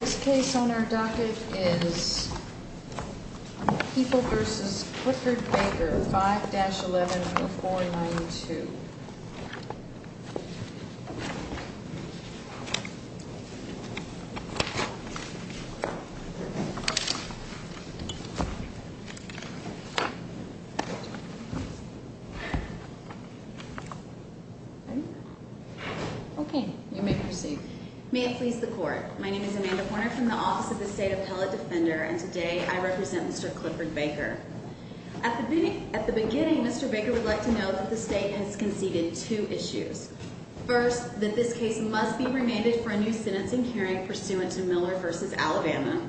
This case on our docket is Heeple v. Clifford Baker, 5-11-492. May it please the court, my name is Amanda Horner from the Office of the State Appellate Defender and today I represent Mr. Clifford Baker. At the beginning, Mr. Baker would like to note that the state has conceded two issues. First, that this case must be remanded for a new sentencing hearing pursuant to Miller v. Alabama.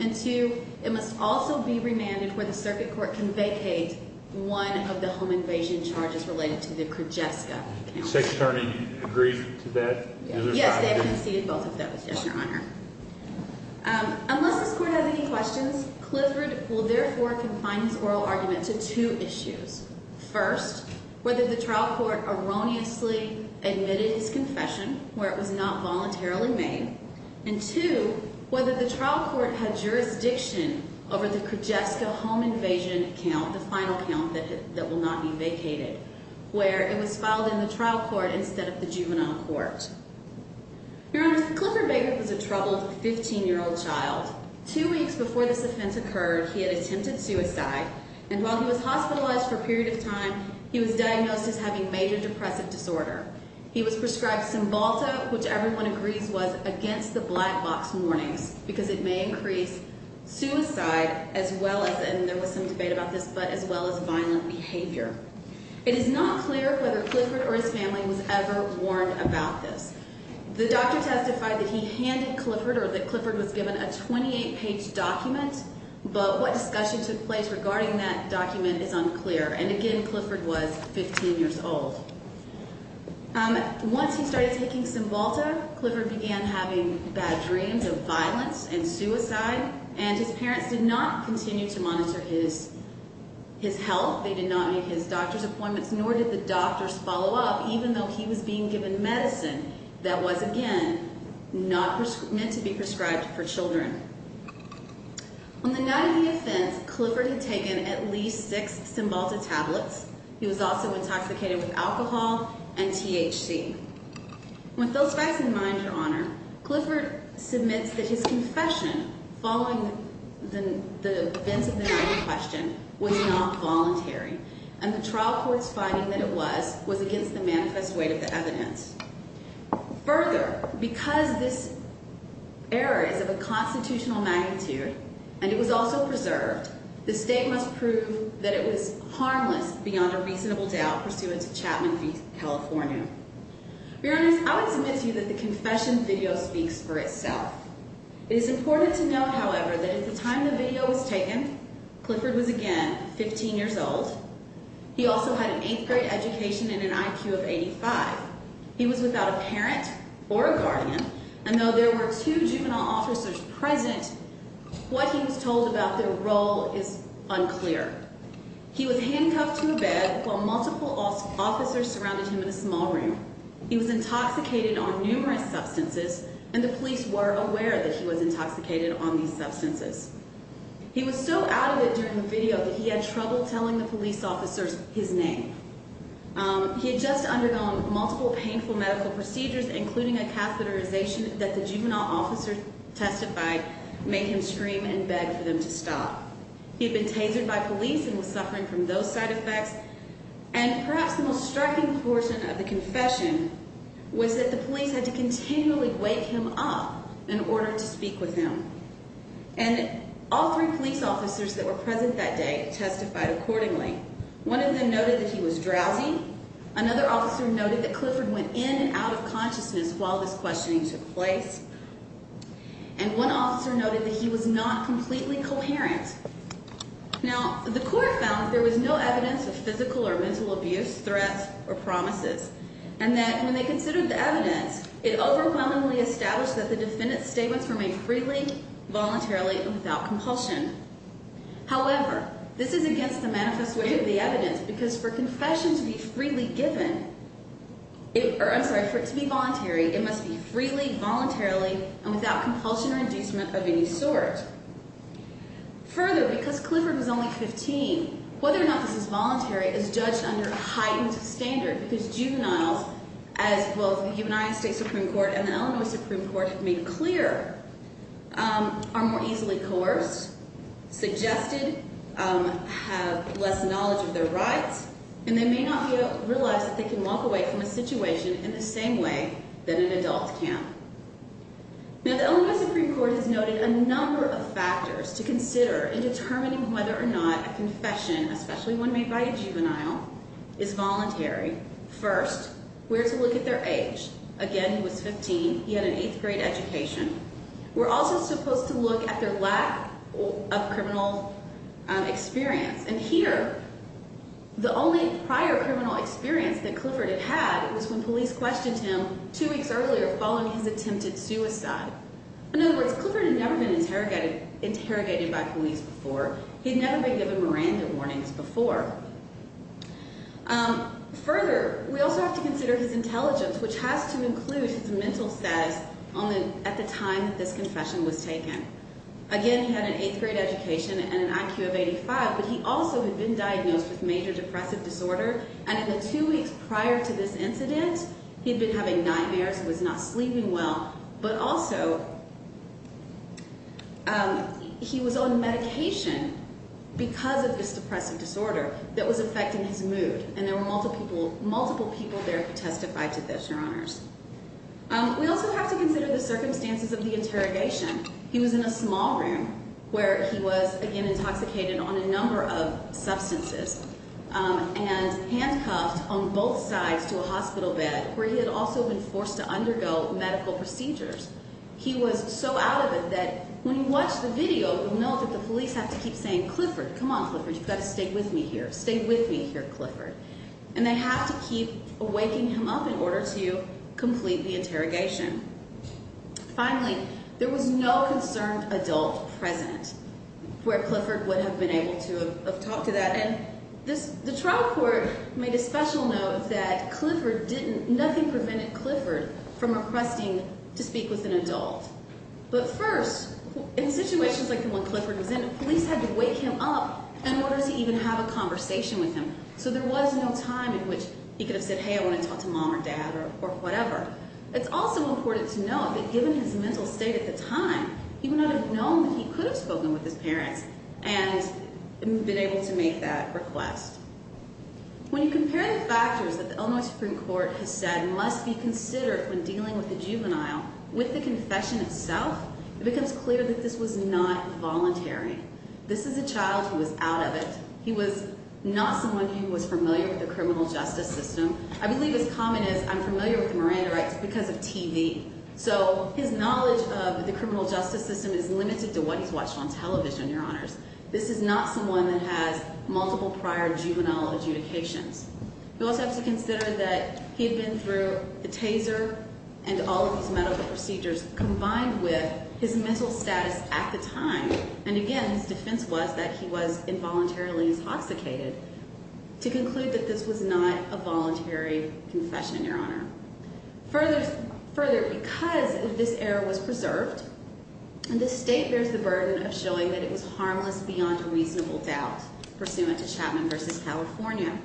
And two, it must also be remanded where the circuit court can vacate one of the home invasion charges related to the Krijeska. The State Attorney agrees to that? Yes, they have conceded both of those, yes, Your Honor. Unless this court has any questions, Clifford will therefore confine his oral argument to two issues. First, whether the trial court erroneously admitted his confession where it was not voluntarily made. And two, whether the trial court had jurisdiction over the Krijeska home invasion count, the final count that will not be vacated, where it was filed in the trial court instead of the juvenile court. Your Honor, Clifford Baker was a troubled 15-year-old child. Two weeks before this offense occurred, he had attempted suicide and while he was hospitalized for a period of time, he was diagnosed as having major depressive disorder. He was prescribed Cymbalta, which everyone agrees was against the black box warnings because it may increase suicide as well as, and there was some debate about this, but as well as violent behavior. It is not clear whether Clifford or his family was ever warned about this. The doctor testified that he handed Clifford or that Clifford was given a 28-page document, but what discussion took place regarding that document is unclear. And again, Clifford was 15 years old. Once he started taking Cymbalta, Clifford began having bad dreams of violence and suicide and his parents did not continue to monitor his health. They did not meet his doctor's appointments, nor did the doctors follow up, even though he was being given medicine that was, again, not meant to be prescribed for children. On the night of the offense, Clifford had taken at least six Cymbalta tablets. He was also intoxicated with alcohol and THC. With those facts in mind, Your Honor, Clifford submits that his confession following the events of the night in question was not voluntary and the trial court's finding that it was was against the manifest weight of the evidence. Further, because this error is of a constitutional magnitude and it was also preserved, the State must prove that it was harmless beyond a reasonable doubt pursuant to Chapman v. California. Your Honor, I would submit to you that the confession video speaks for itself. It is important to note, however, that at the time the video was taken, Clifford was again 15 years old. He also had an eighth grade education and an IQ of 85. He was without a parent or a guardian, and though there were two juvenile officers present, what he was told about their role is unclear. He was handcuffed to a bed while multiple officers surrounded him in a small room. He was intoxicated on numerous substances, and the police were aware that he was intoxicated on these substances. He was so out of it during the video that he had trouble telling the police officers his name. He had just undergone multiple painful medical procedures, including a catheterization that the juvenile officers testified made him scream and beg for them to stop. He had been tasered by police and was suffering from those side effects. And perhaps the most striking portion of the confession was that the police had to continually wake him up in order to speak with him. And all three police officers that were present that day testified accordingly. One of them noted that he was drowsy. Another officer noted that Clifford went in and out of consciousness while this questioning took place. And one officer noted that he was not completely coherent. Now, the court found that there was no evidence of physical or mental abuse, threats, or promises. And that when they considered the evidence, it overwhelmingly established that the defendant's statements remained freely, voluntarily, and without compulsion. However, this is against the manifest way of the evidence because for confession to be freely given, I'm sorry, for it to be voluntary, it must be freely, voluntarily, and without compulsion or inducement of any sort. Further, because Clifford was only 15, whether or not this is voluntary is judged under a heightened standard because juveniles, as both the United States Supreme Court and the Illinois Supreme Court have made clear, are more easily coerced, suggested, have less knowledge of their rights, and they may not realize that they can walk away from a situation in the same way that an adult can. Now, the Illinois Supreme Court has noted a number of factors to consider in determining whether or not a confession, especially one made by a juvenile, is voluntary. First, we're to look at their age. Again, he was 15. He had an 8th grade education. We're also supposed to look at their lack of criminal experience. And here, the only prior criminal experience that Clifford had had was when police questioned him two weeks earlier following his attempted suicide. In other words, Clifford had never been interrogated by police before. He'd never been given Miranda warnings before. Further, we also have to consider his intelligence, which has to include his mental status at the time that this confession was taken. Again, he had an 8th grade education and an IQ of 85, but he also had been diagnosed with major depressive disorder, and in the two weeks prior to this incident, he'd been having nightmares. He was not sleeping well. But also, he was on medication because of this depressive disorder that was affecting his mood, and there were multiple people there who testified to this, Your Honors. We also have to consider the circumstances of the interrogation. He was in a small room where he was, again, intoxicated on a number of substances, and handcuffed on both sides to a hospital bed where he had also been forced to undergo medical procedures. He was so out of it that when you watch the video, you'll note that the police have to keep saying, Clifford, come on, Clifford, you've got to stay with me here. Stay with me here, Clifford. And they have to keep waking him up in order to complete the interrogation. Finally, there was no concerned adult present where Clifford would have been able to have talked to that, and the trial court made a special note that nothing prevented Clifford from requesting to speak with an adult. But first, in situations like the one Clifford was in, police had to wake him up in order to even have a conversation with him, so there was no time in which he could have said, hey, I want to talk to mom or dad or whatever. It's also important to note that given his mental state at the time, he would not have known that he could have spoken with his parents and been able to make that request. When you compare the factors that the Illinois Supreme Court has said must be considered when dealing with the juvenile, with the confession itself, it becomes clear that this was not voluntary. This is a child who was out of it. He was not someone who was familiar with the criminal justice system. I believe as common as I'm familiar with the Miranda rights because of TV. So his knowledge of the criminal justice system is limited to what he's watched on television, Your Honors. This is not someone that has multiple prior juvenile adjudications. We also have to consider that he had been through a taser and all of these medical procedures combined with his mental status at the time. And again, his defense was that he was involuntarily intoxicated to conclude that this was not a voluntary confession, Your Honor. Further, because this error was preserved, and this state bears the burden of showing that it was harmless beyond a reasonable doubt, pursuant to Chapman v. California,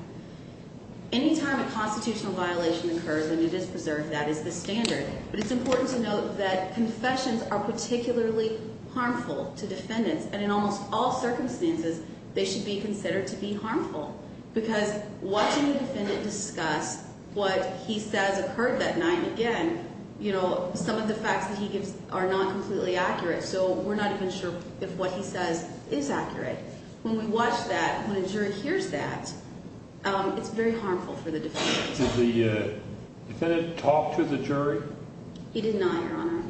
any time a constitutional violation occurs and it is preserved, that is the standard. But it's important to note that confessions are particularly harmful to defendants. And in almost all circumstances, they should be considered to be harmful. Because watching the defendant discuss what he says occurred that night again, you know, some of the facts that he gives are not completely accurate. So we're not even sure if what he says is accurate. When we watch that, when a jury hears that, it's very harmful for the defendant. Did the defendant talk to the jury? He did not, Your Honor.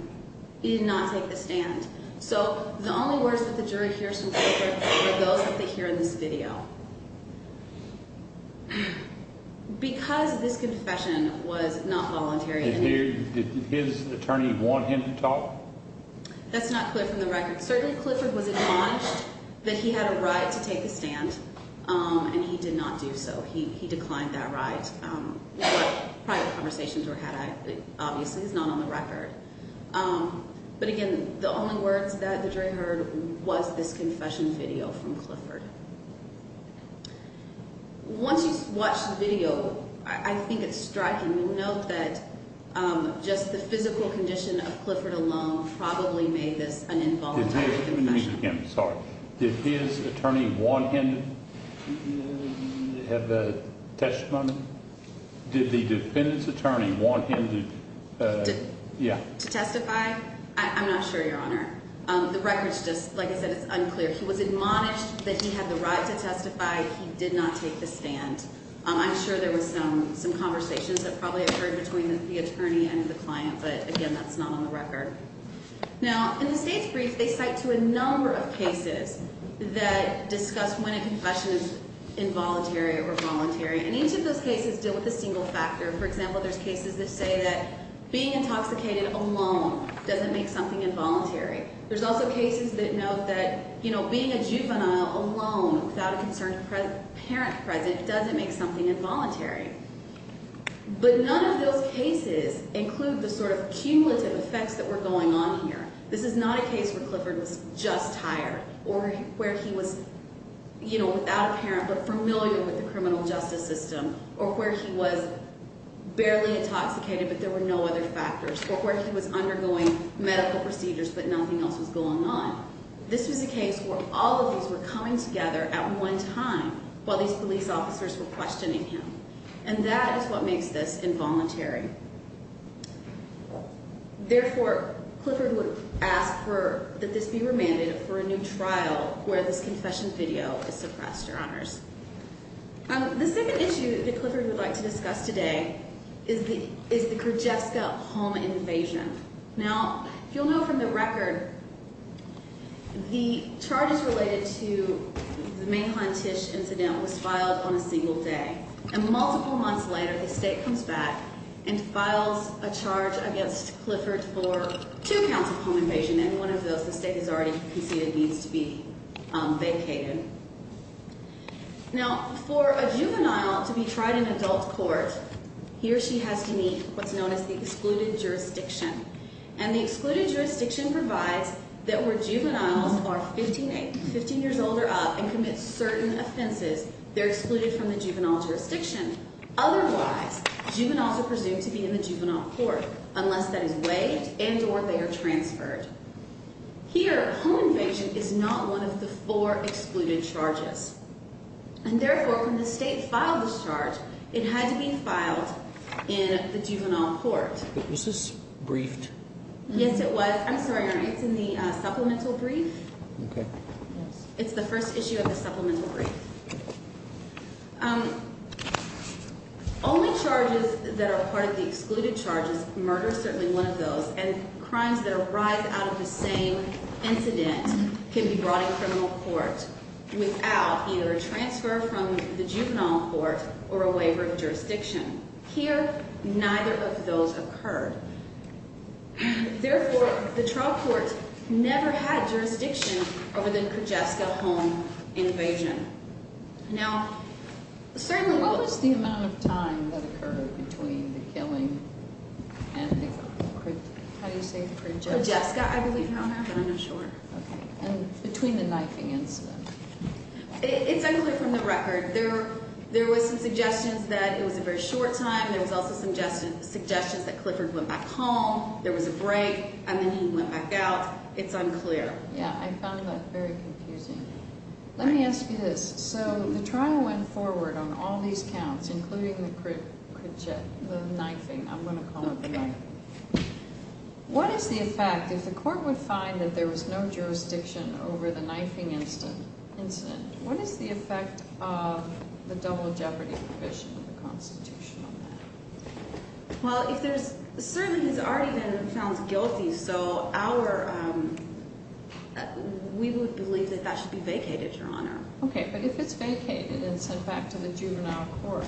He did not take the stand. So the only words that the jury hears from Clifford are those that they hear in this video. Because this confession was not voluntary. Did his attorney want him to talk? That's not clear from the record. Certainly, Clifford was admonished that he had a right to take the stand, and he did not do so. He declined that right. But private conversations were had. Obviously, it's not on the record. But, again, the only words that the jury heard was this confession video from Clifford. Once you watch the video, I think it's striking to note that just the physical condition of Clifford alone probably made this an involuntary confession. I'm sorry. Did his attorney want him to have a testimony? Did the defendant's attorney want him to testify? I'm not sure, Your Honor. The record's just, like I said, it's unclear. He was admonished that he had the right to testify. He did not take the stand. I'm sure there was some conversations that probably occurred between the attorney and the client. But, again, that's not on the record. Now, in the state's brief, they cite to a number of cases that discuss when a confession is involuntary or voluntary. And each of those cases deal with a single factor. For example, there's cases that say that being intoxicated alone doesn't make something involuntary. There's also cases that note that being a juvenile alone without a concerned parent present doesn't make something involuntary. But none of those cases include the sort of cumulative effects that were going on here. This is not a case where Clifford was just tired or where he was, you know, without a parent but familiar with the criminal justice system or where he was barely intoxicated but there were no other factors or where he was undergoing medical procedures but nothing else was going on. This was a case where all of these were coming together at one time while these police officers were questioning him. And that is what makes this involuntary. Therefore, Clifford would ask that this be remanded for a new trial where this confession video is suppressed, Your Honors. The second issue that Clifford would like to discuss today is the Kyrgyzstan home invasion. Now, if you'll note from the record, the charges related to the Mainland Tish incident was filed on a single day. And multiple months later, the state comes back and files a charge against Clifford for two counts of home invasion and one of those the state has already conceded needs to be vacated. Now, for a juvenile to be tried in adult court, he or she has to meet what's known as the excluded jurisdiction. And the excluded jurisdiction provides that where juveniles are 15 years old or up and commit certain offenses, they're excluded from the juvenile jurisdiction. Otherwise, juveniles are presumed to be in the juvenile court unless that is waived and or they are transferred. Here, home invasion is not one of the four excluded charges. And therefore, when the state filed this charge, it had to be filed in the juvenile court. Was this briefed? Yes, it was. I'm sorry, Your Honor. It's in the supplemental brief. Okay. It's the first issue of the supplemental brief. Only charges that are part of the excluded charges, murder is certainly one of those, and crimes that arise out of the same incident can be brought in criminal court without either a transfer from the juvenile court or a waiver of jurisdiction. Here, neither of those occurred. Therefore, the trial court never had jurisdiction over the Krijeska home invasion. Now, certainly, what was the amount of time that occurred between the killing and the Krijeska? How do you say Krijeska? Krijeska, I believe, Your Honor. But I'm not sure. Okay. And between the knifing incident. It's actually from the record. There were some suggestions that it was a very short time. There was also some suggestions that Clifford went back home. There was a break, and then he went back out. It's unclear. Yeah, I found that very confusing. Let me ask you this. So the trial went forward on all these counts, including the knifing. I'm going to call it the night. Okay. What is the effect, if the court would find that there was no jurisdiction over the knifing incident, what is the effect of the double jeopardy provision of the Constitution on that? Well, if there's a servant who's already been found guilty, so we would believe that that should be vacated, Your Honor. Okay. But if it's vacated and sent back to the juvenile court,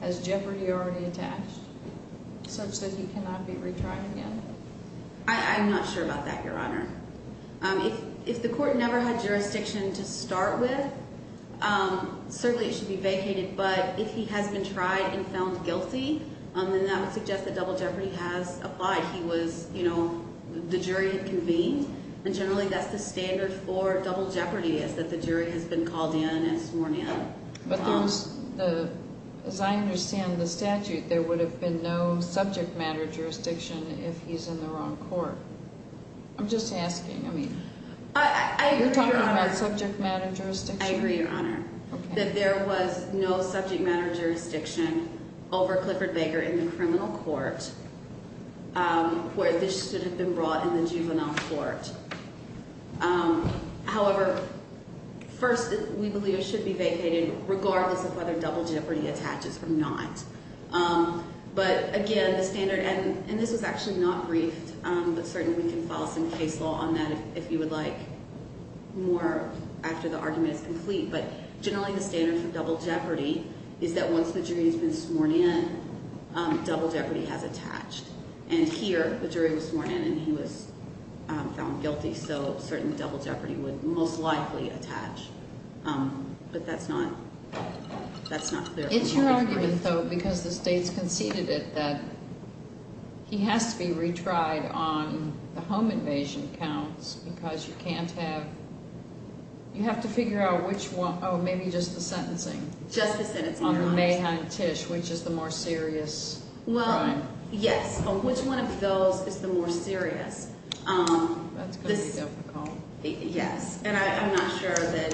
has jeopardy already attached such that he cannot be retried again? I'm not sure about that, Your Honor. If the court never had jurisdiction to start with, certainly it should be vacated, but if he has been tried and found guilty, then that would suggest that double jeopardy has applied. He was, you know, the jury had convened, and generally that's the standard for double jeopardy is that the jury has been called in and sworn in. But as I understand the statute, there would have been no subject matter jurisdiction if he's in the wrong court. I'm just asking. I mean, you're talking about subject matter jurisdiction? I agree, Your Honor, that there was no subject matter jurisdiction over Clifford Baker in the criminal court where this should have been brought in the juvenile court. However, first, we believe it should be vacated regardless of whether double jeopardy attaches or not. But again, the standard, and this was actually not briefed, but certainly we can file some case law on that if you would like more after the argument is complete. But generally the standard for double jeopardy is that once the jury has been sworn in, double jeopardy has attached. And here, the jury was sworn in and he was found guilty, so certain double jeopardy would most likely attach. But that's not clear. It's your argument, though, because the state's conceded it, that he has to be retried on the home invasion counts because you can't have, you have to figure out which one, oh, maybe just the sentencing. Just the sentencing, Your Honor. On the Mahon-Tish, which is the more serious crime. Well, yes. Which one of those is the more serious? That's going to be difficult. Yes. And I'm not sure that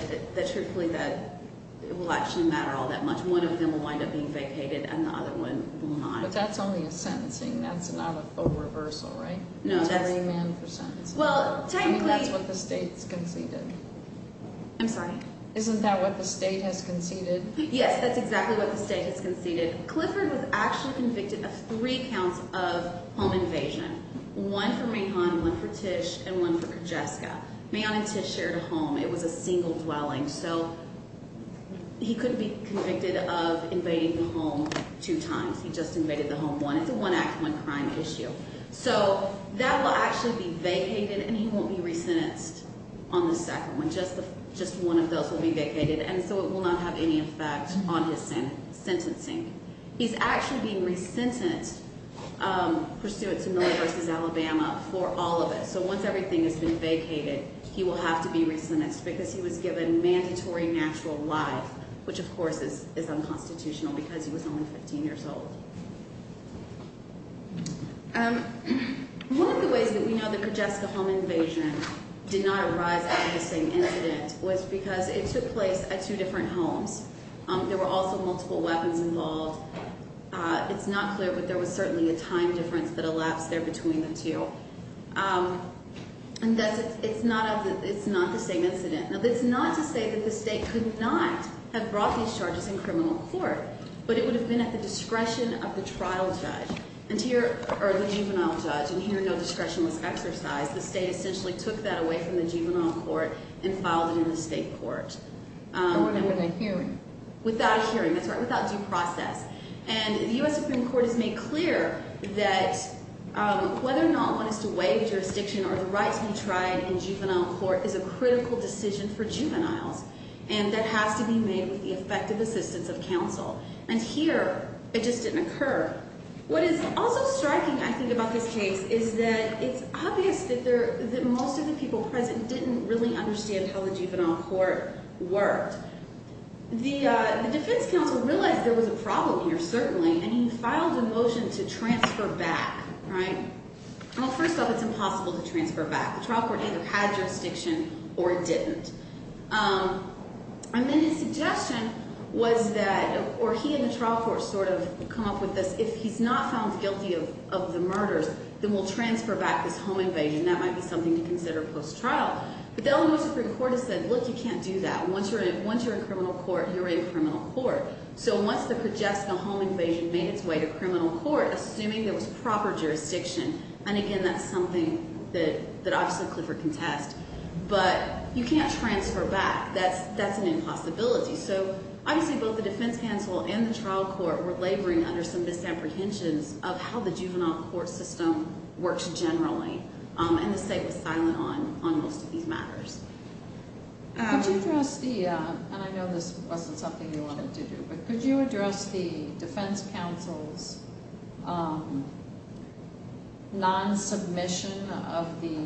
it will actually matter all that much. One of them will wind up being vacated and the other one will not. But that's only a sentencing. That's not a reversal, right? No, that's. A jury man for sentencing. Well, technically. I mean, that's what the state's conceded. I'm sorry? Isn't that what the state has conceded? Yes, that's exactly what the state has conceded. Clifford was actually convicted of three counts of home invasion, one for Mahon, one for Tish, and one for Krijeska. Mahon and Tish shared a home. It was a single dwelling. So he could be convicted of invading the home two times. He just invaded the home one. It's a one-act, one-crime issue. So that will actually be vacated, and he won't be resentenced on the second one. Just one of those will be vacated, and so it will not have any effect on his sentencing. He's actually being resentenced pursuant to Miller v. Alabama for all of it. So once everything has been vacated, he will have to be resentenced because he was given mandatory natural life, which, of course, is unconstitutional because he was only 15 years old. One of the ways that we know the Krijeska home invasion did not arise out of the same incident was because it took place at two different homes. There were also multiple weapons involved. It's not clear, but there was certainly a time difference that elapsed there between the two, and thus it's not the same incident. Now, that's not to say that the state could not have brought these charges in criminal court, but it would have been at the discretion of the juvenile judge, and here no discretion was exercised. The state essentially took that away from the juvenile court and filed it in the state court. Without a hearing. Without a hearing, that's right, without due process. And the U.S. Supreme Court has made clear that whether or not one is to waive jurisdiction or the rights be tried in juvenile court is a critical decision for juveniles, and that has to be made with the effective assistance of counsel, and here it just didn't occur. What is also striking, I think, about this case is that it's obvious that most of the people present didn't really understand how the juvenile court worked. The defense counsel realized there was a problem here, certainly, and he filed a motion to transfer back, right? Well, first off, it's impossible to transfer back. The trial court either had jurisdiction or it didn't. And then his suggestion was that, or he and the trial court sort of come up with this, if he's not found guilty of the murders, then we'll transfer back this home invasion. That might be something to consider post-trial. But the L.A. Supreme Court has said, look, you can't do that. Once you're in criminal court, you're in criminal court. So once the Progesta home invasion made its way to criminal court, assuming there was proper jurisdiction, and again, that's something that obviously Clifford can test, but you can't transfer back. That's an impossibility. So obviously both the defense counsel and the trial court were laboring under some misapprehensions of how the juvenile court system works generally, and the state was silent on most of these matters. Could you address the, and I know this wasn't something you wanted to do, but could you address the defense counsel's non-submission of the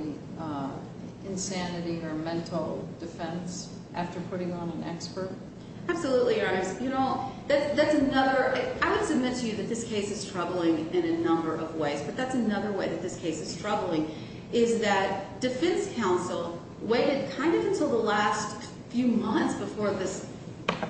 insanity or mental defense after putting on an expert? Absolutely, Your Honor. That's another, I would submit to you that this case is troubling in a number of ways, but that's another way that this case is troubling is that defense counsel waited kind of until the last few months before this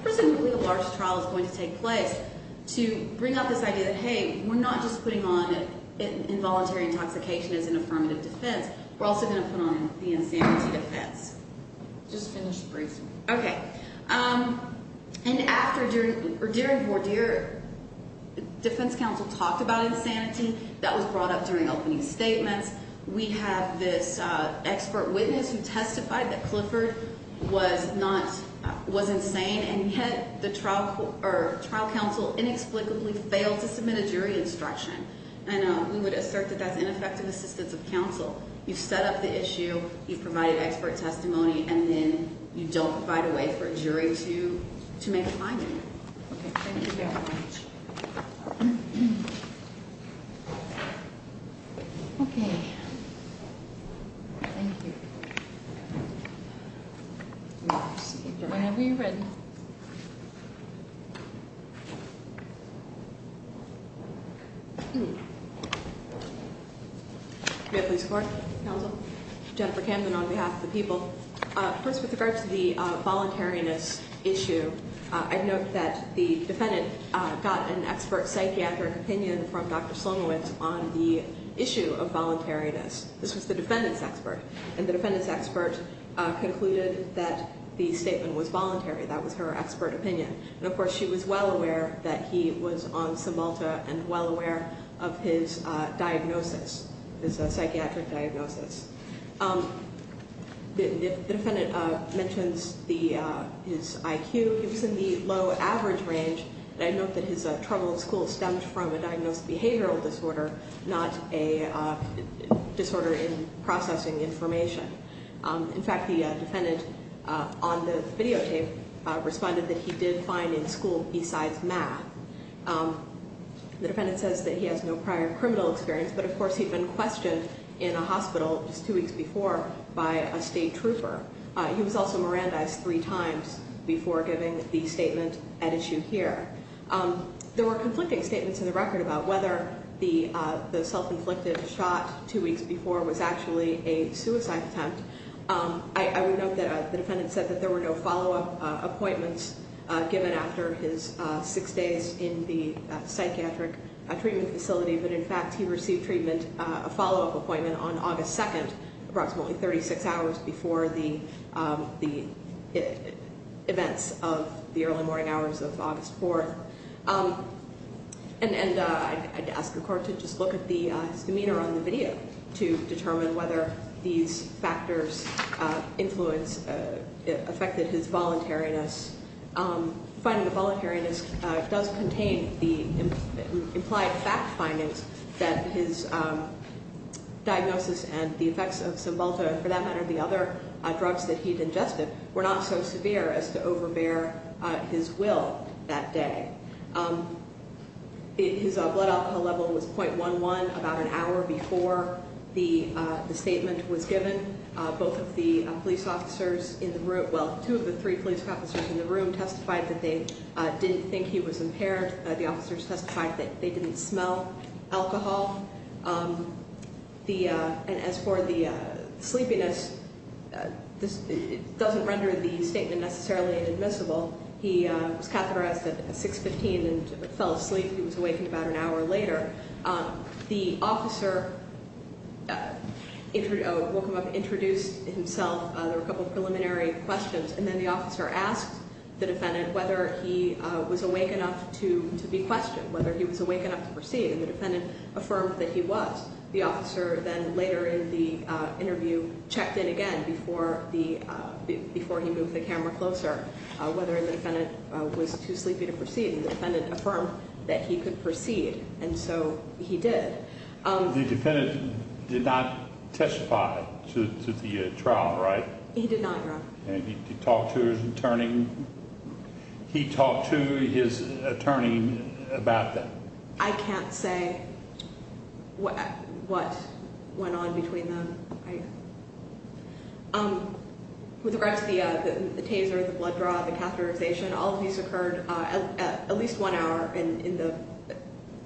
presumably large trial is going to take place to bring up this idea that, hey, we're not just putting on involuntary intoxication as an affirmative defense. We're also going to put on the insanity defense. Just finish the briefing. Okay. And after, or during Vordeer, defense counsel talked about insanity. That was brought up during opening statements. We have this expert witness who testified that Clifford was not, was insane, and yet the trial counsel inexplicably failed to submit a jury instruction, So you've set up the issue, you've provided expert testimony, and then you don't provide a way for a jury to make a finding. Okay. Thank you very much. Okay. Thank you. Whenever you're ready. Okay. May I please report, counsel? Jennifer Camden on behalf of the people. First, with regard to the voluntariness issue, I'd note that the defendant got an expert psychiatric opinion from Dr. Slomowicz on the issue of voluntariness. This was the defendant's expert. And the defendant's expert concluded that the statement was voluntary. That was her expert opinion. And, of course, she was well aware that he was on Cymalta and well aware of his diagnosis, his psychiatric diagnosis. The defendant mentions his IQ. It was in the low average range. And I note that his trouble at school stemmed from a diagnosed behavioral disorder, not a disorder in processing information. In fact, the defendant on the videotape responded that he did fine in school besides math. The defendant says that he has no prior criminal experience, but, of course, he'd been questioned in a hospital just two weeks before by a state trooper. He was also Mirandized three times before giving the statement at issue here. There were conflicting statements in the record about whether the self-inflicted shot two weeks before was actually a suicide attempt. I would note that the defendant said that there were no follow-up appointments given after his six days in the psychiatric treatment facility. But, in fact, he received treatment, a follow-up appointment on August 2nd, approximately 36 hours before the events of the early morning hours of August 4th. And I'd ask the court to just look at his demeanor on the video to determine whether these factors influenced, affected his voluntariness. Finding the voluntariness does contain the implied fact findings that his diagnosis and the effects of Cymbalta, for that matter, the other drugs that he'd ingested, were not so severe as to overbear his will that day. His blood alcohol level was 0.11 about an hour before the statement was given. Both of the police officers, well, two of the three police officers in the room testified that they didn't think he was impaired. The officers testified that they didn't smell alcohol. And as for the sleepiness, this doesn't render the statement necessarily admissible. He was catheterized at 6.15 and fell asleep. He was awakened about an hour later. The officer woke him up, introduced himself. There were a couple of preliminary questions. And then the officer asked the defendant whether he was awake enough to be questioned, whether he was awake enough to proceed. And the defendant affirmed that he was. The officer then, later in the interview, checked in again before he moved the camera closer, whether the defendant was too sleepy to proceed. And the defendant affirmed that he could proceed. And so he did. The defendant did not testify to the trial, right? He did not, Your Honor. And he talked to his attorney about that? I can't say what went on between them. With regards to the taser, the blood draw, the catheterization, all of these occurred at least one hour, and in the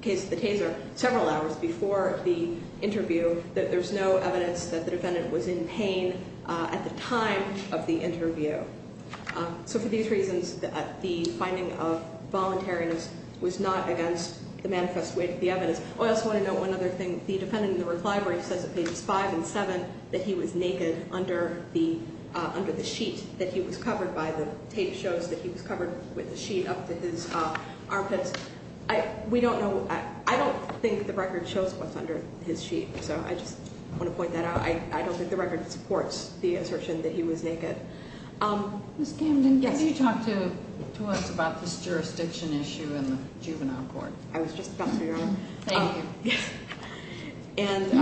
case of the taser, several hours before the interview, that there's no evidence that the defendant was in pain at the time of the interview. So for these reasons, the finding of voluntariness was not against the manifest weight of the evidence. I also want to note one other thing. The defendant in the reply where he says at pages five and seven that he was naked under the sheet that he was covered by, the tape shows that he was covered with a sheet up to his armpits. We don't know. I don't think the record shows what's under his sheet, so I just want to point that out. I don't think the record supports the assertion that he was naked. Ms. Camden, can you talk to us about this jurisdiction issue in the juvenile court? I was just about to, Your Honor. Thank you. And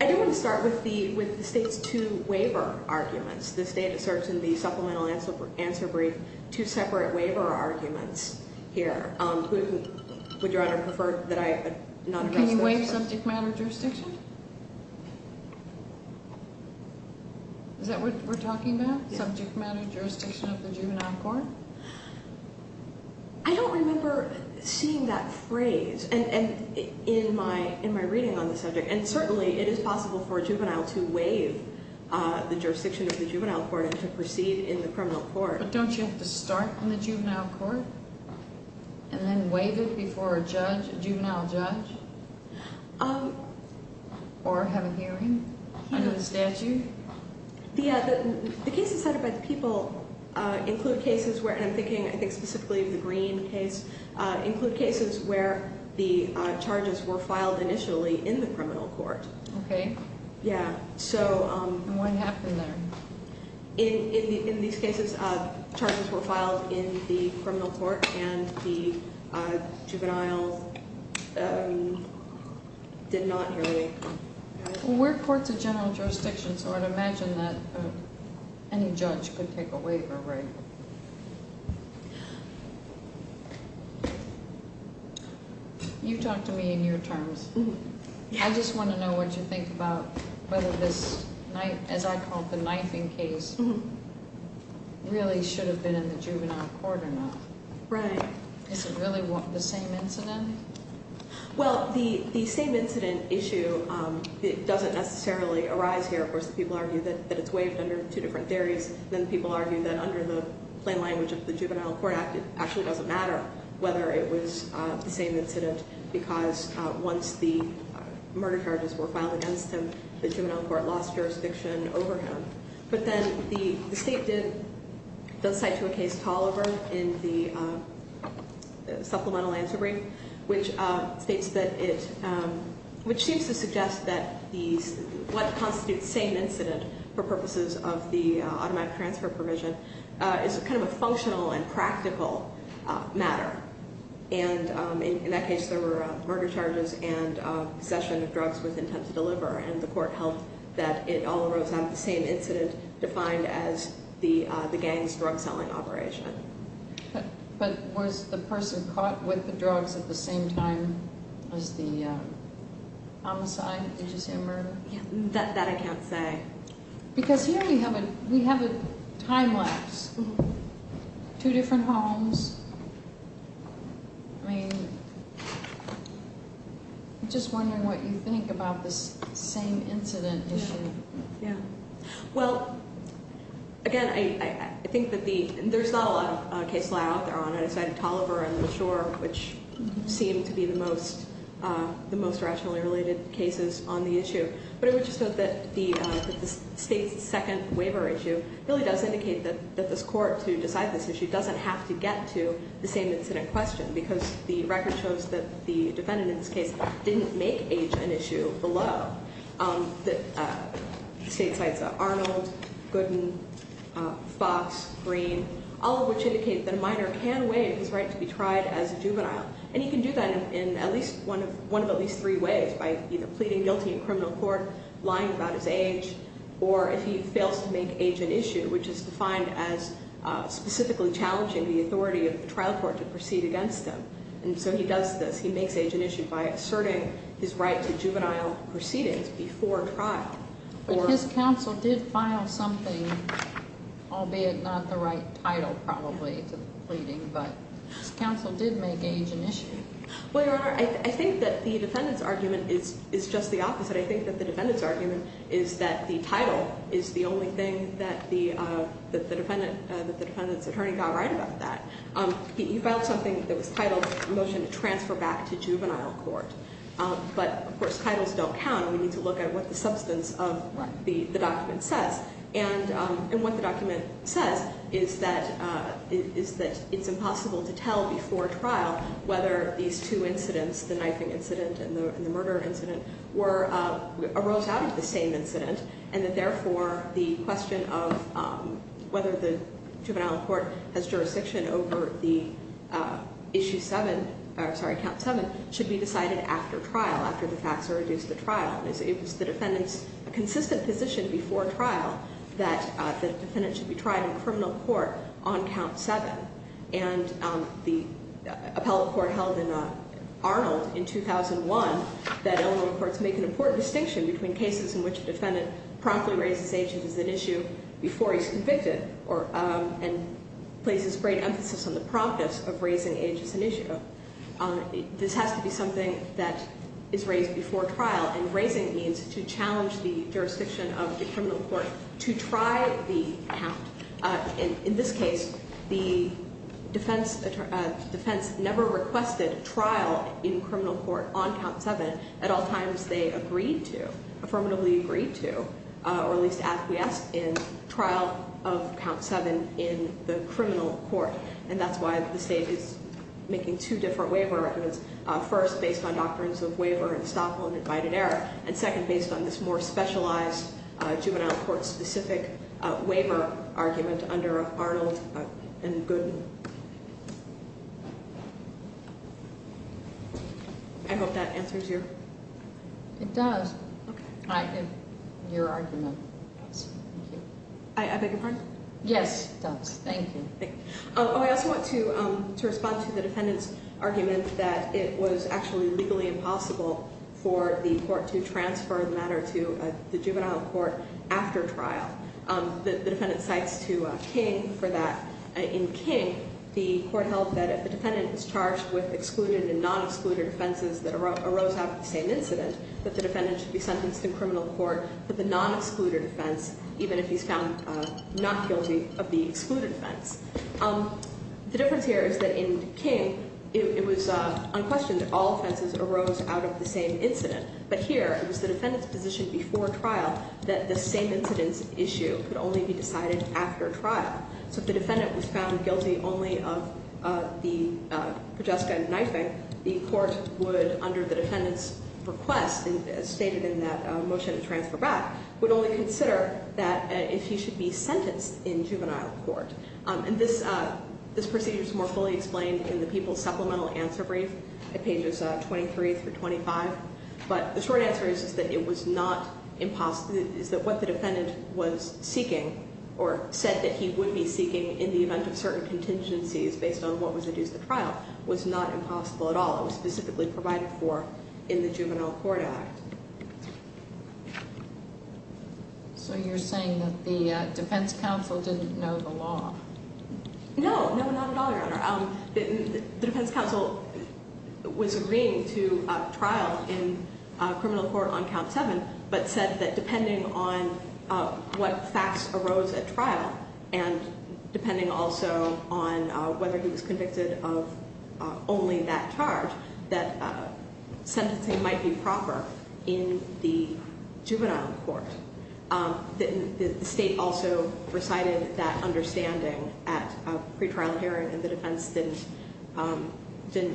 I do want to start with the state's two waiver arguments. This data search and the supplemental answer brief, two separate waiver arguments here. Would Your Honor prefer that I not address those first? Can you waive subject matter jurisdiction? Is that what we're talking about, subject matter jurisdiction of the juvenile court? I don't remember seeing that phrase in my reading on the subject, and certainly it is possible for a juvenile to waive the jurisdiction of the juvenile court and to proceed in the criminal court. But don't you have to start in the juvenile court and then waive it before a juvenile judge or have a hearing under the statute? The cases cited by the people include cases where, and I'm thinking I think specifically of the Green case, include cases where the charges were filed initially in the criminal court. Okay. Yeah. And what happened there? In these cases, charges were filed in the criminal court and the juvenile did not hear a hearing. We're courts of general jurisdiction, so I'd imagine that any judge could take a waiver, right? You talk to me in your terms. I just want to know what you think about whether this, as I call it, the knifing case, really should have been in the juvenile court or not. Right. Is it really the same incident? Well, the same incident issue doesn't necessarily arise here. Of course, people argue that it's waived under two different theories. Then people argue that under the plain language of the Juvenile Court Act, it actually doesn't matter whether it was the same incident because once the murder charges were filed against him, the juvenile court lost jurisdiction over him. But then the state does cite to a case, Toliver, in the supplemental answer brief, which states that it, which seems to suggest that what constitutes same incident for purposes of the automatic transfer provision is kind of a functional and practical matter. And in that case, there were murder charges and possession of drugs with intent to deliver. And the court held that it all arose out of the same incident defined as the gang's drug selling operation. But was the person caught with the drugs at the same time as the homicide? Did you say murder? That I can't say. Because here we have a time lapse. Two different homes. I mean, I'm just wondering what you think about this same incident issue. Yeah. Well, again, I think that the, there's not a lot of case law out there on either side of Toliver and LaSure, which seem to be the most rationally related cases on the issue. But I would just note that the state's second waiver issue really does indicate that this court, to decide this issue, doesn't have to get to the same incident question because the record shows that the defendant in this case didn't make age an issue below. The state cites Arnold, Gooden, Fox, Green, all of which indicate that a minor can waive his right to be tried as a juvenile. And he can do that in at least one of at least three ways, by either pleading guilty in criminal court, lying about his age, or if he fails to make age an issue, which is defined as specifically challenging the authority of the trial court to proceed against him. And so he does this. He makes age an issue by asserting his right to juvenile proceedings before trial. But his counsel did file something, albeit not the right title probably to the pleading, but his counsel did make age an issue. Well, Your Honor, I think that the defendant's argument is just the opposite. I think that the defendant's argument is that the title is the only thing that the defendant's attorney got right about that. He filed something that was titled a motion to transfer back to juvenile court. But, of course, titles don't count. We need to look at what the substance of the document says. And what the document says is that it's impossible to tell before trial whether these two incidents, the knifing incident and the murder incident, arose out of the same incident. And that, therefore, the question of whether the juvenile court has jurisdiction over the issue seven, sorry, count seven, should be decided after trial, after the facts are reduced to trial. It was the defendant's consistent position before trial that the defendant should be tried in criminal court on count seven. And the appellate court held in Arnold in 2001 that Illinois courts make an important distinction between cases in which a defendant promptly raises age as an issue before he's convicted and places great emphasis on the promptness of raising age as an issue. This has to be something that is raised before trial, and raising means to challenge the jurisdiction of the criminal court to try the count. In this case, the defense never requested trial in criminal court on count seven. At all times, they agreed to, affirmatively agreed to, or at least acquiesced in trial of count seven in the criminal court. And that's why the state is making two different waiver recommendations. First, based on doctrines of waiver and stop on invited error. And second, based on this more specialized juvenile court specific waiver argument under Arnold and Gooden. I hope that answers your- It does. Okay. I think your argument does. Thank you. I beg your pardon? Yes, it does. Thank you. I also want to respond to the defendant's argument that it was actually legally impossible for the court to transfer the matter to the juvenile court after trial. The defendant cites to King for that. In King, the court held that if the defendant was charged with excluded and non-excluded offenses that arose after the same incident, that the defendant should be sentenced in criminal court for the non-excluded offense, even if he's found not guilty of the excluded offense. The difference here is that in King, it was unquestioned that all offenses arose out of the same incident. But here, it was the defendant's position before trial that the same incident's issue could only be decided after trial. So if the defendant was found guilty only of the Progesta knifing, the court would, under the defendant's request, as stated in that motion to transfer back, would only consider that if he should be sentenced in juvenile court. And this procedure is more fully explained in the People's Supplemental Answer Brief at pages 23 through 25. But the short answer is that it was not impossible, is that what the defendant was seeking or said that he would be seeking in the event of certain contingencies based on what was due to the trial was not impossible at all. It was specifically provided for in the Juvenile Court Act. So you're saying that the defense counsel didn't know the law? No, no, not at all, Your Honor. The defense counsel was agreeing to trial in criminal court on count seven, but said that depending on what facts arose at trial, and depending also on whether he was convicted of only that charge, that sentencing might be proper in the juvenile court. The state also recited that understanding at a pretrial hearing, and the defense didn't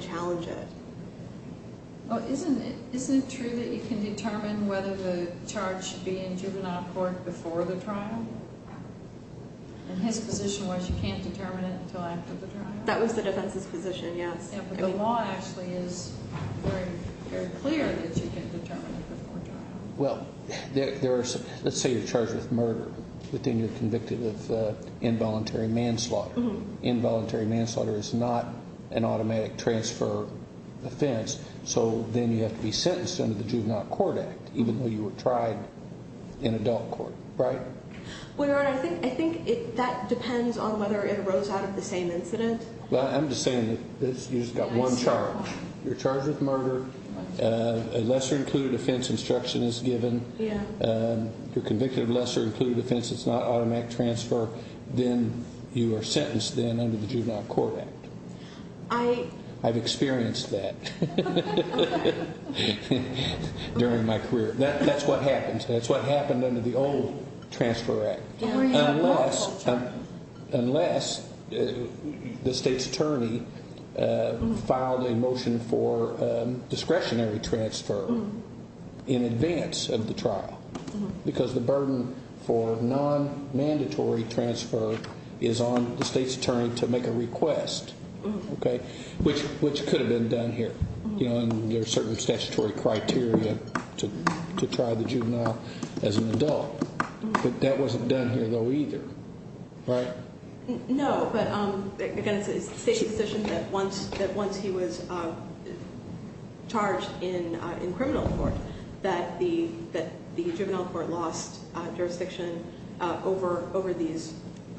challenge it. Well, isn't it true that you can determine whether the charge should be in juvenile court before the trial? And his position was you can't determine it until after the trial? That was the defense's position, yes. Yeah, but the law actually is very clear that you can determine it before trial. Well, let's say you're charged with murder, but then you're convicted of involuntary manslaughter. Involuntary manslaughter is not an automatic transfer offense, so then you have to be sentenced under the Juvenile Court Act, even though you were tried in adult court, right? Well, Your Honor, I think that depends on whether it arose out of the same incident. Well, I'm just saying that you just got one charge. You're charged with murder. A lesser-included offense instruction is given. You're convicted of lesser-included offense. It's not automatic transfer. Then you are sentenced then under the Juvenile Court Act. I've experienced that during my career. That's what happens. That's what happened under the old Transfer Act. Unless the state's attorney filed a motion for discretionary transfer in advance of the trial, because the burden for non-mandatory transfer is on the state's attorney to make a request, which could have been done here. There are certain statutory criteria to try the juvenile as an adult. That wasn't done here, though, either, right? No, but again, it's the state's decision that once he was charged in criminal court that the juvenile court lost jurisdiction over these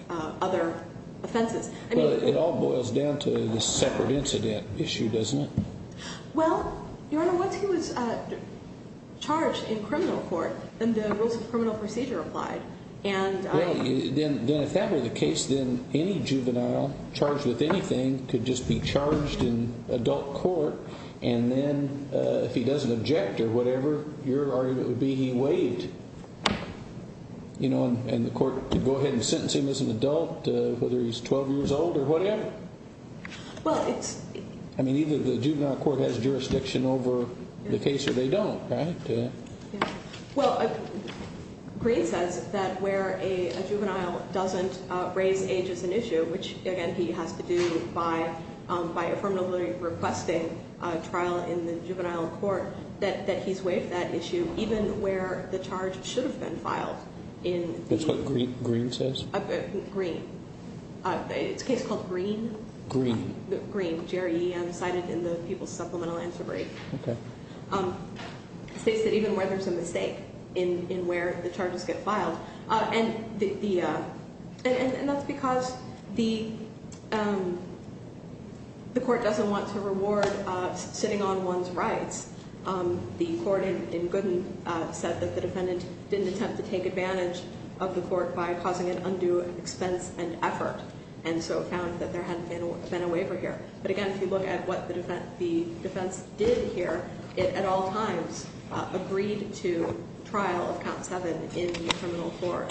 other offenses. Well, it all boils down to the separate incident issue, doesn't it? Well, Your Honor, once he was charged in criminal court, then the rules of criminal procedure applied. Then if that were the case, then any juvenile charged with anything could just be charged in adult court, and then if he doesn't object or whatever, your argument would be he waived. And the court could go ahead and sentence him as an adult, whether he's 12 years old or whatever? Well, it's... I mean, either the juvenile court has jurisdiction over the case or they don't, right? Well, Green says that where a juvenile doesn't raise age as an issue, which, again, he has to do by affirmatively requesting a trial in the juvenile court, that he's waived that issue even where the charge should have been filed in the... That's what Green says? Green. It's a case called Green. Green. Green, G-R-E-N, cited in the people's supplemental answer brief. Okay. States that even where there's a mistake in where the charges get filed, And that's because the court doesn't want to reward sitting on one's rights. The court in Gooden said that the defendant didn't attempt to take advantage of the court by causing an undue expense and effort, and so found that there hadn't been a waiver here. But, again, if you look at what the defense did here, it at all times agreed to trial of count seven in the criminal court.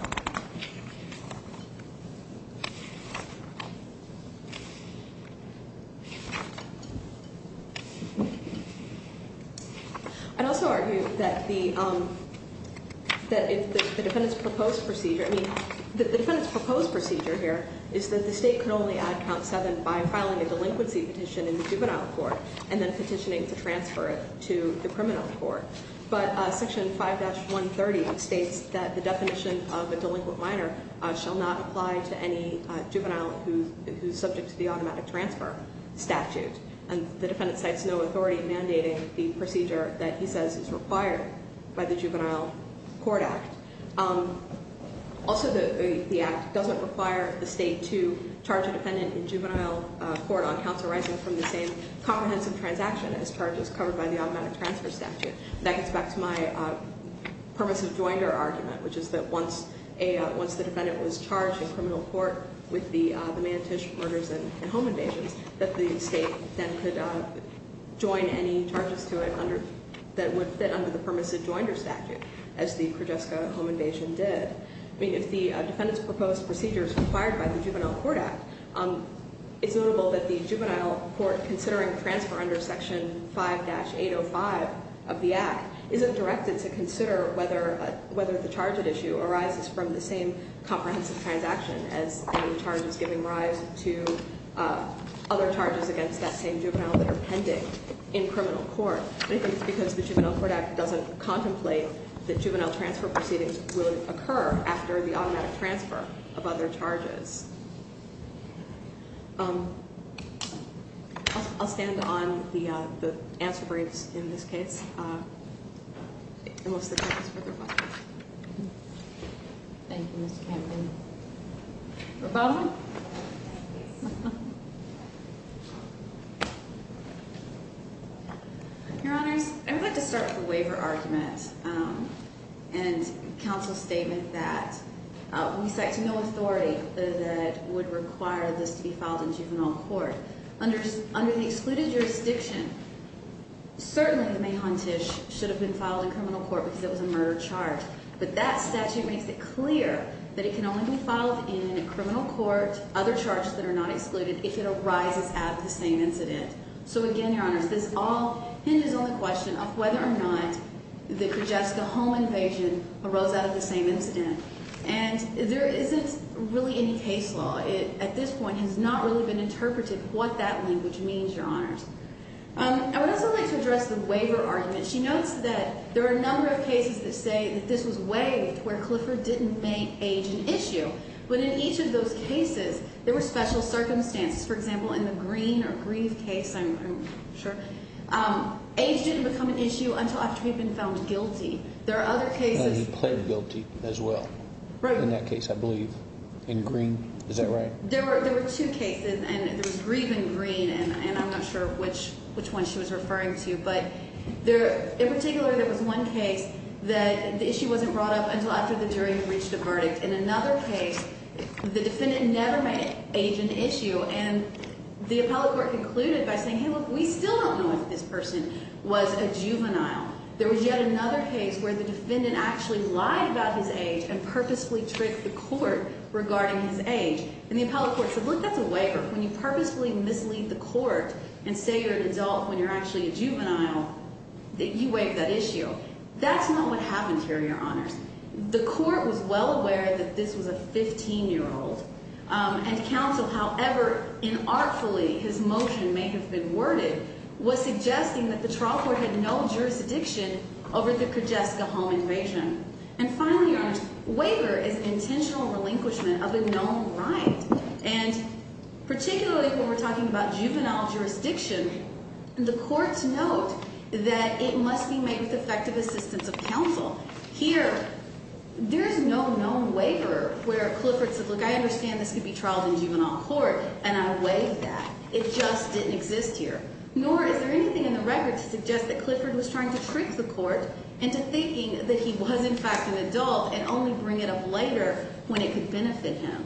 I'd also argue that the defendant's proposed procedure, I mean, the defendant's proposed procedure here is that the state can only add count seven by filing a delinquency petition in the juvenile court and then petitioning to transfer it to the criminal court. But Section 5-130 states that the definition of a delinquent minor shall not apply to any juvenile who's subject to the automatic transfer statute. And the defendant cites no authority in mandating the procedure that he says is required by the Juvenile Court Act. Also, the act doesn't require the state to charge a defendant in juvenile court on counsel rising from the same comprehensive transaction as charges covered by the automatic transfer statute. That gets back to my permissive joinder argument, which is that once the defendant was charged in criminal court with the Manitish murders and home invasions, that the state then could join any charges to it that would fit under the permissive joinder statute, as the Krojewska home invasion did. I mean, if the defendant's proposed procedure is required by the Juvenile Court Act, it's notable that the Juvenile Court, considering transfer under Section 5-805 of the act, isn't directed to consider whether the charge at issue arises from the same comprehensive transaction as any charges giving rise to other charges against that same juvenile that are pending in criminal court. I think it's because the Juvenile Court Act doesn't contemplate that juvenile transfer proceedings will occur after the automatic transfer of other charges. I'll stand on the answer briefs in this case. And what's the purpose for rebuttal? Thank you, Mr. Campbell. Rebuttal? Your Honors, I would like to start with the waiver argument and counsel's statement that we cite to no authority that would require this to be filed in juvenile court. Under the excluded jurisdiction, certainly the Mahon Tish should have been filed in criminal court because it was a murder charge. But that statute makes it clear that it can only be filed in criminal court, other charges that are not excluded, if it arises out of the same incident. So again, Your Honors, this all hinges on the question of whether or not the Krojewska home invasion arose out of the same incident. And there isn't really any case law. It, at this point, has not really been interpreted what that language means, Your Honors. I would also like to address the waiver argument. She notes that there are a number of cases that say that this was waived where Clifford didn't make age an issue. But in each of those cases, there were special circumstances. For example, in the Green or Grieve case, I'm sure, age didn't become an issue until after he'd been found guilty. There are other cases. He pled guilty as well. Right. In that case, I believe. In Green? Is that right? There were two cases, and there was Grieve in Green, and I'm not sure which one she was referring to. But in particular, there was one case that the issue wasn't brought up until after the jury had reached a verdict. In another case, the defendant never made age an issue. And the appellate court concluded by saying, hey, look, we still don't know if this person was a juvenile. There was yet another case where the defendant actually lied about his age and purposefully tricked the court regarding his age. And the appellate court said, look, that's a waiver. When you purposefully mislead the court and say you're an adult when you're actually a juvenile, you waive that issue. That's not what happened here, Your Honors. The court was well aware that this was a 15-year-old. And counsel, however inartfully his motion may have been worded, was suggesting that the trial court had no jurisdiction over the Kujeska home invasion. And finally, Your Honors, waiver is intentional relinquishment of a known right. And particularly when we're talking about juvenile jurisdiction, the courts note that it must be made with effective assistance of counsel. Here, there's no known waiver where Clifford says, look, I understand this could be trialed in juvenile court, and I waive that. It just didn't exist here. Nor is there anything in the record to suggest that Clifford was trying to trick the court into thinking that he was in fact an adult and only bring it up later when it could benefit him.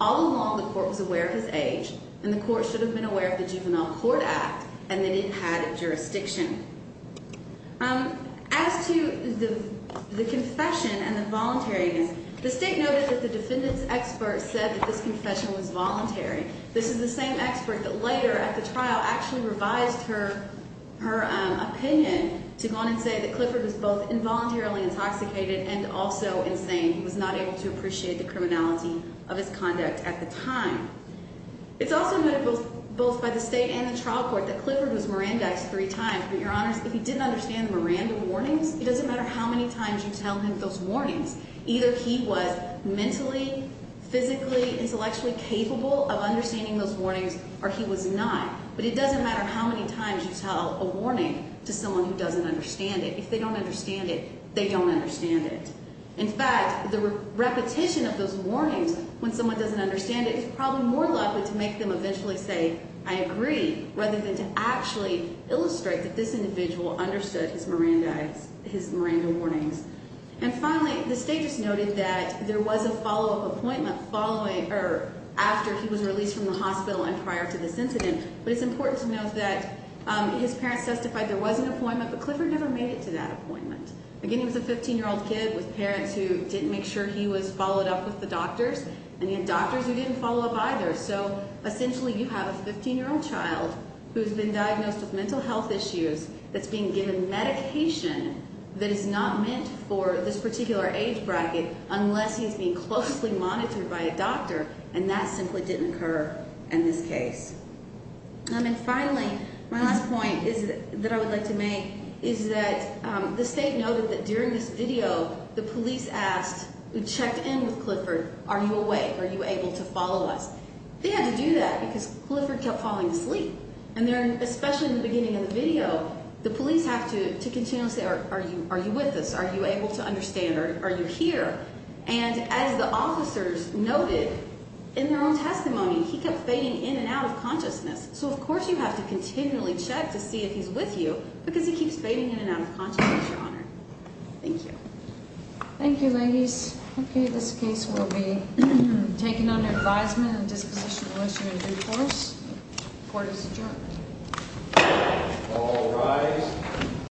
All along, the court was aware of his age, and the court should have been aware of the Juvenile Court Act and that it had jurisdiction. As to the confession and the voluntariness, the state noted that the defendant's expert said that this confession was voluntary. This is the same expert that later at the trial actually revised her opinion to go on and say that Clifford was both involuntarily intoxicated and also insane. He was not able to appreciate the criminality of his conduct at the time. It's also noted both by the state and the trial court that Clifford was Miranda-ized three times. But your honors, if he didn't understand Miranda warnings, it doesn't matter how many times you tell him those warnings. Either he was mentally, physically, intellectually capable of understanding those warnings or he was not. But it doesn't matter how many times you tell a warning to someone who doesn't understand it. If they don't understand it, they don't understand it. In fact, the repetition of those warnings when someone doesn't understand it is probably more likely to make them eventually say, I agree, rather than to actually illustrate that this individual understood his Miranda warnings. And finally, the state just noted that there was a follow-up appointment following or after he was released from the hospital and prior to this incident. But it's important to note that his parents testified there was an appointment, but Clifford never made it to that appointment. Again, he was a 15-year-old kid with parents who didn't make sure he was followed up with the doctors. And he had doctors who didn't follow up either. So essentially you have a 15-year-old child who's been diagnosed with mental health issues that's being given medication that is not meant for this particular age bracket unless he's being closely monitored by a doctor. And that simply didn't occur in this case. And finally, my last point that I would like to make is that the state noted that during this video, the police asked, we checked in with Clifford, are you awake? Are you able to follow us? They had to do that because Clifford kept falling asleep. And especially in the beginning of the video, the police have to continue to say, are you with us? Are you able to understand? Are you here? And as the officers noted in their own testimony, he kept fading in and out of consciousness. So of course you have to continually check to see if he's with you because he keeps fading in and out of consciousness, Your Honor. Thank you. Thank you, ladies. Okay, this case will be taken under advisement and disposition unless you're in due course. Court is adjourned. All rise.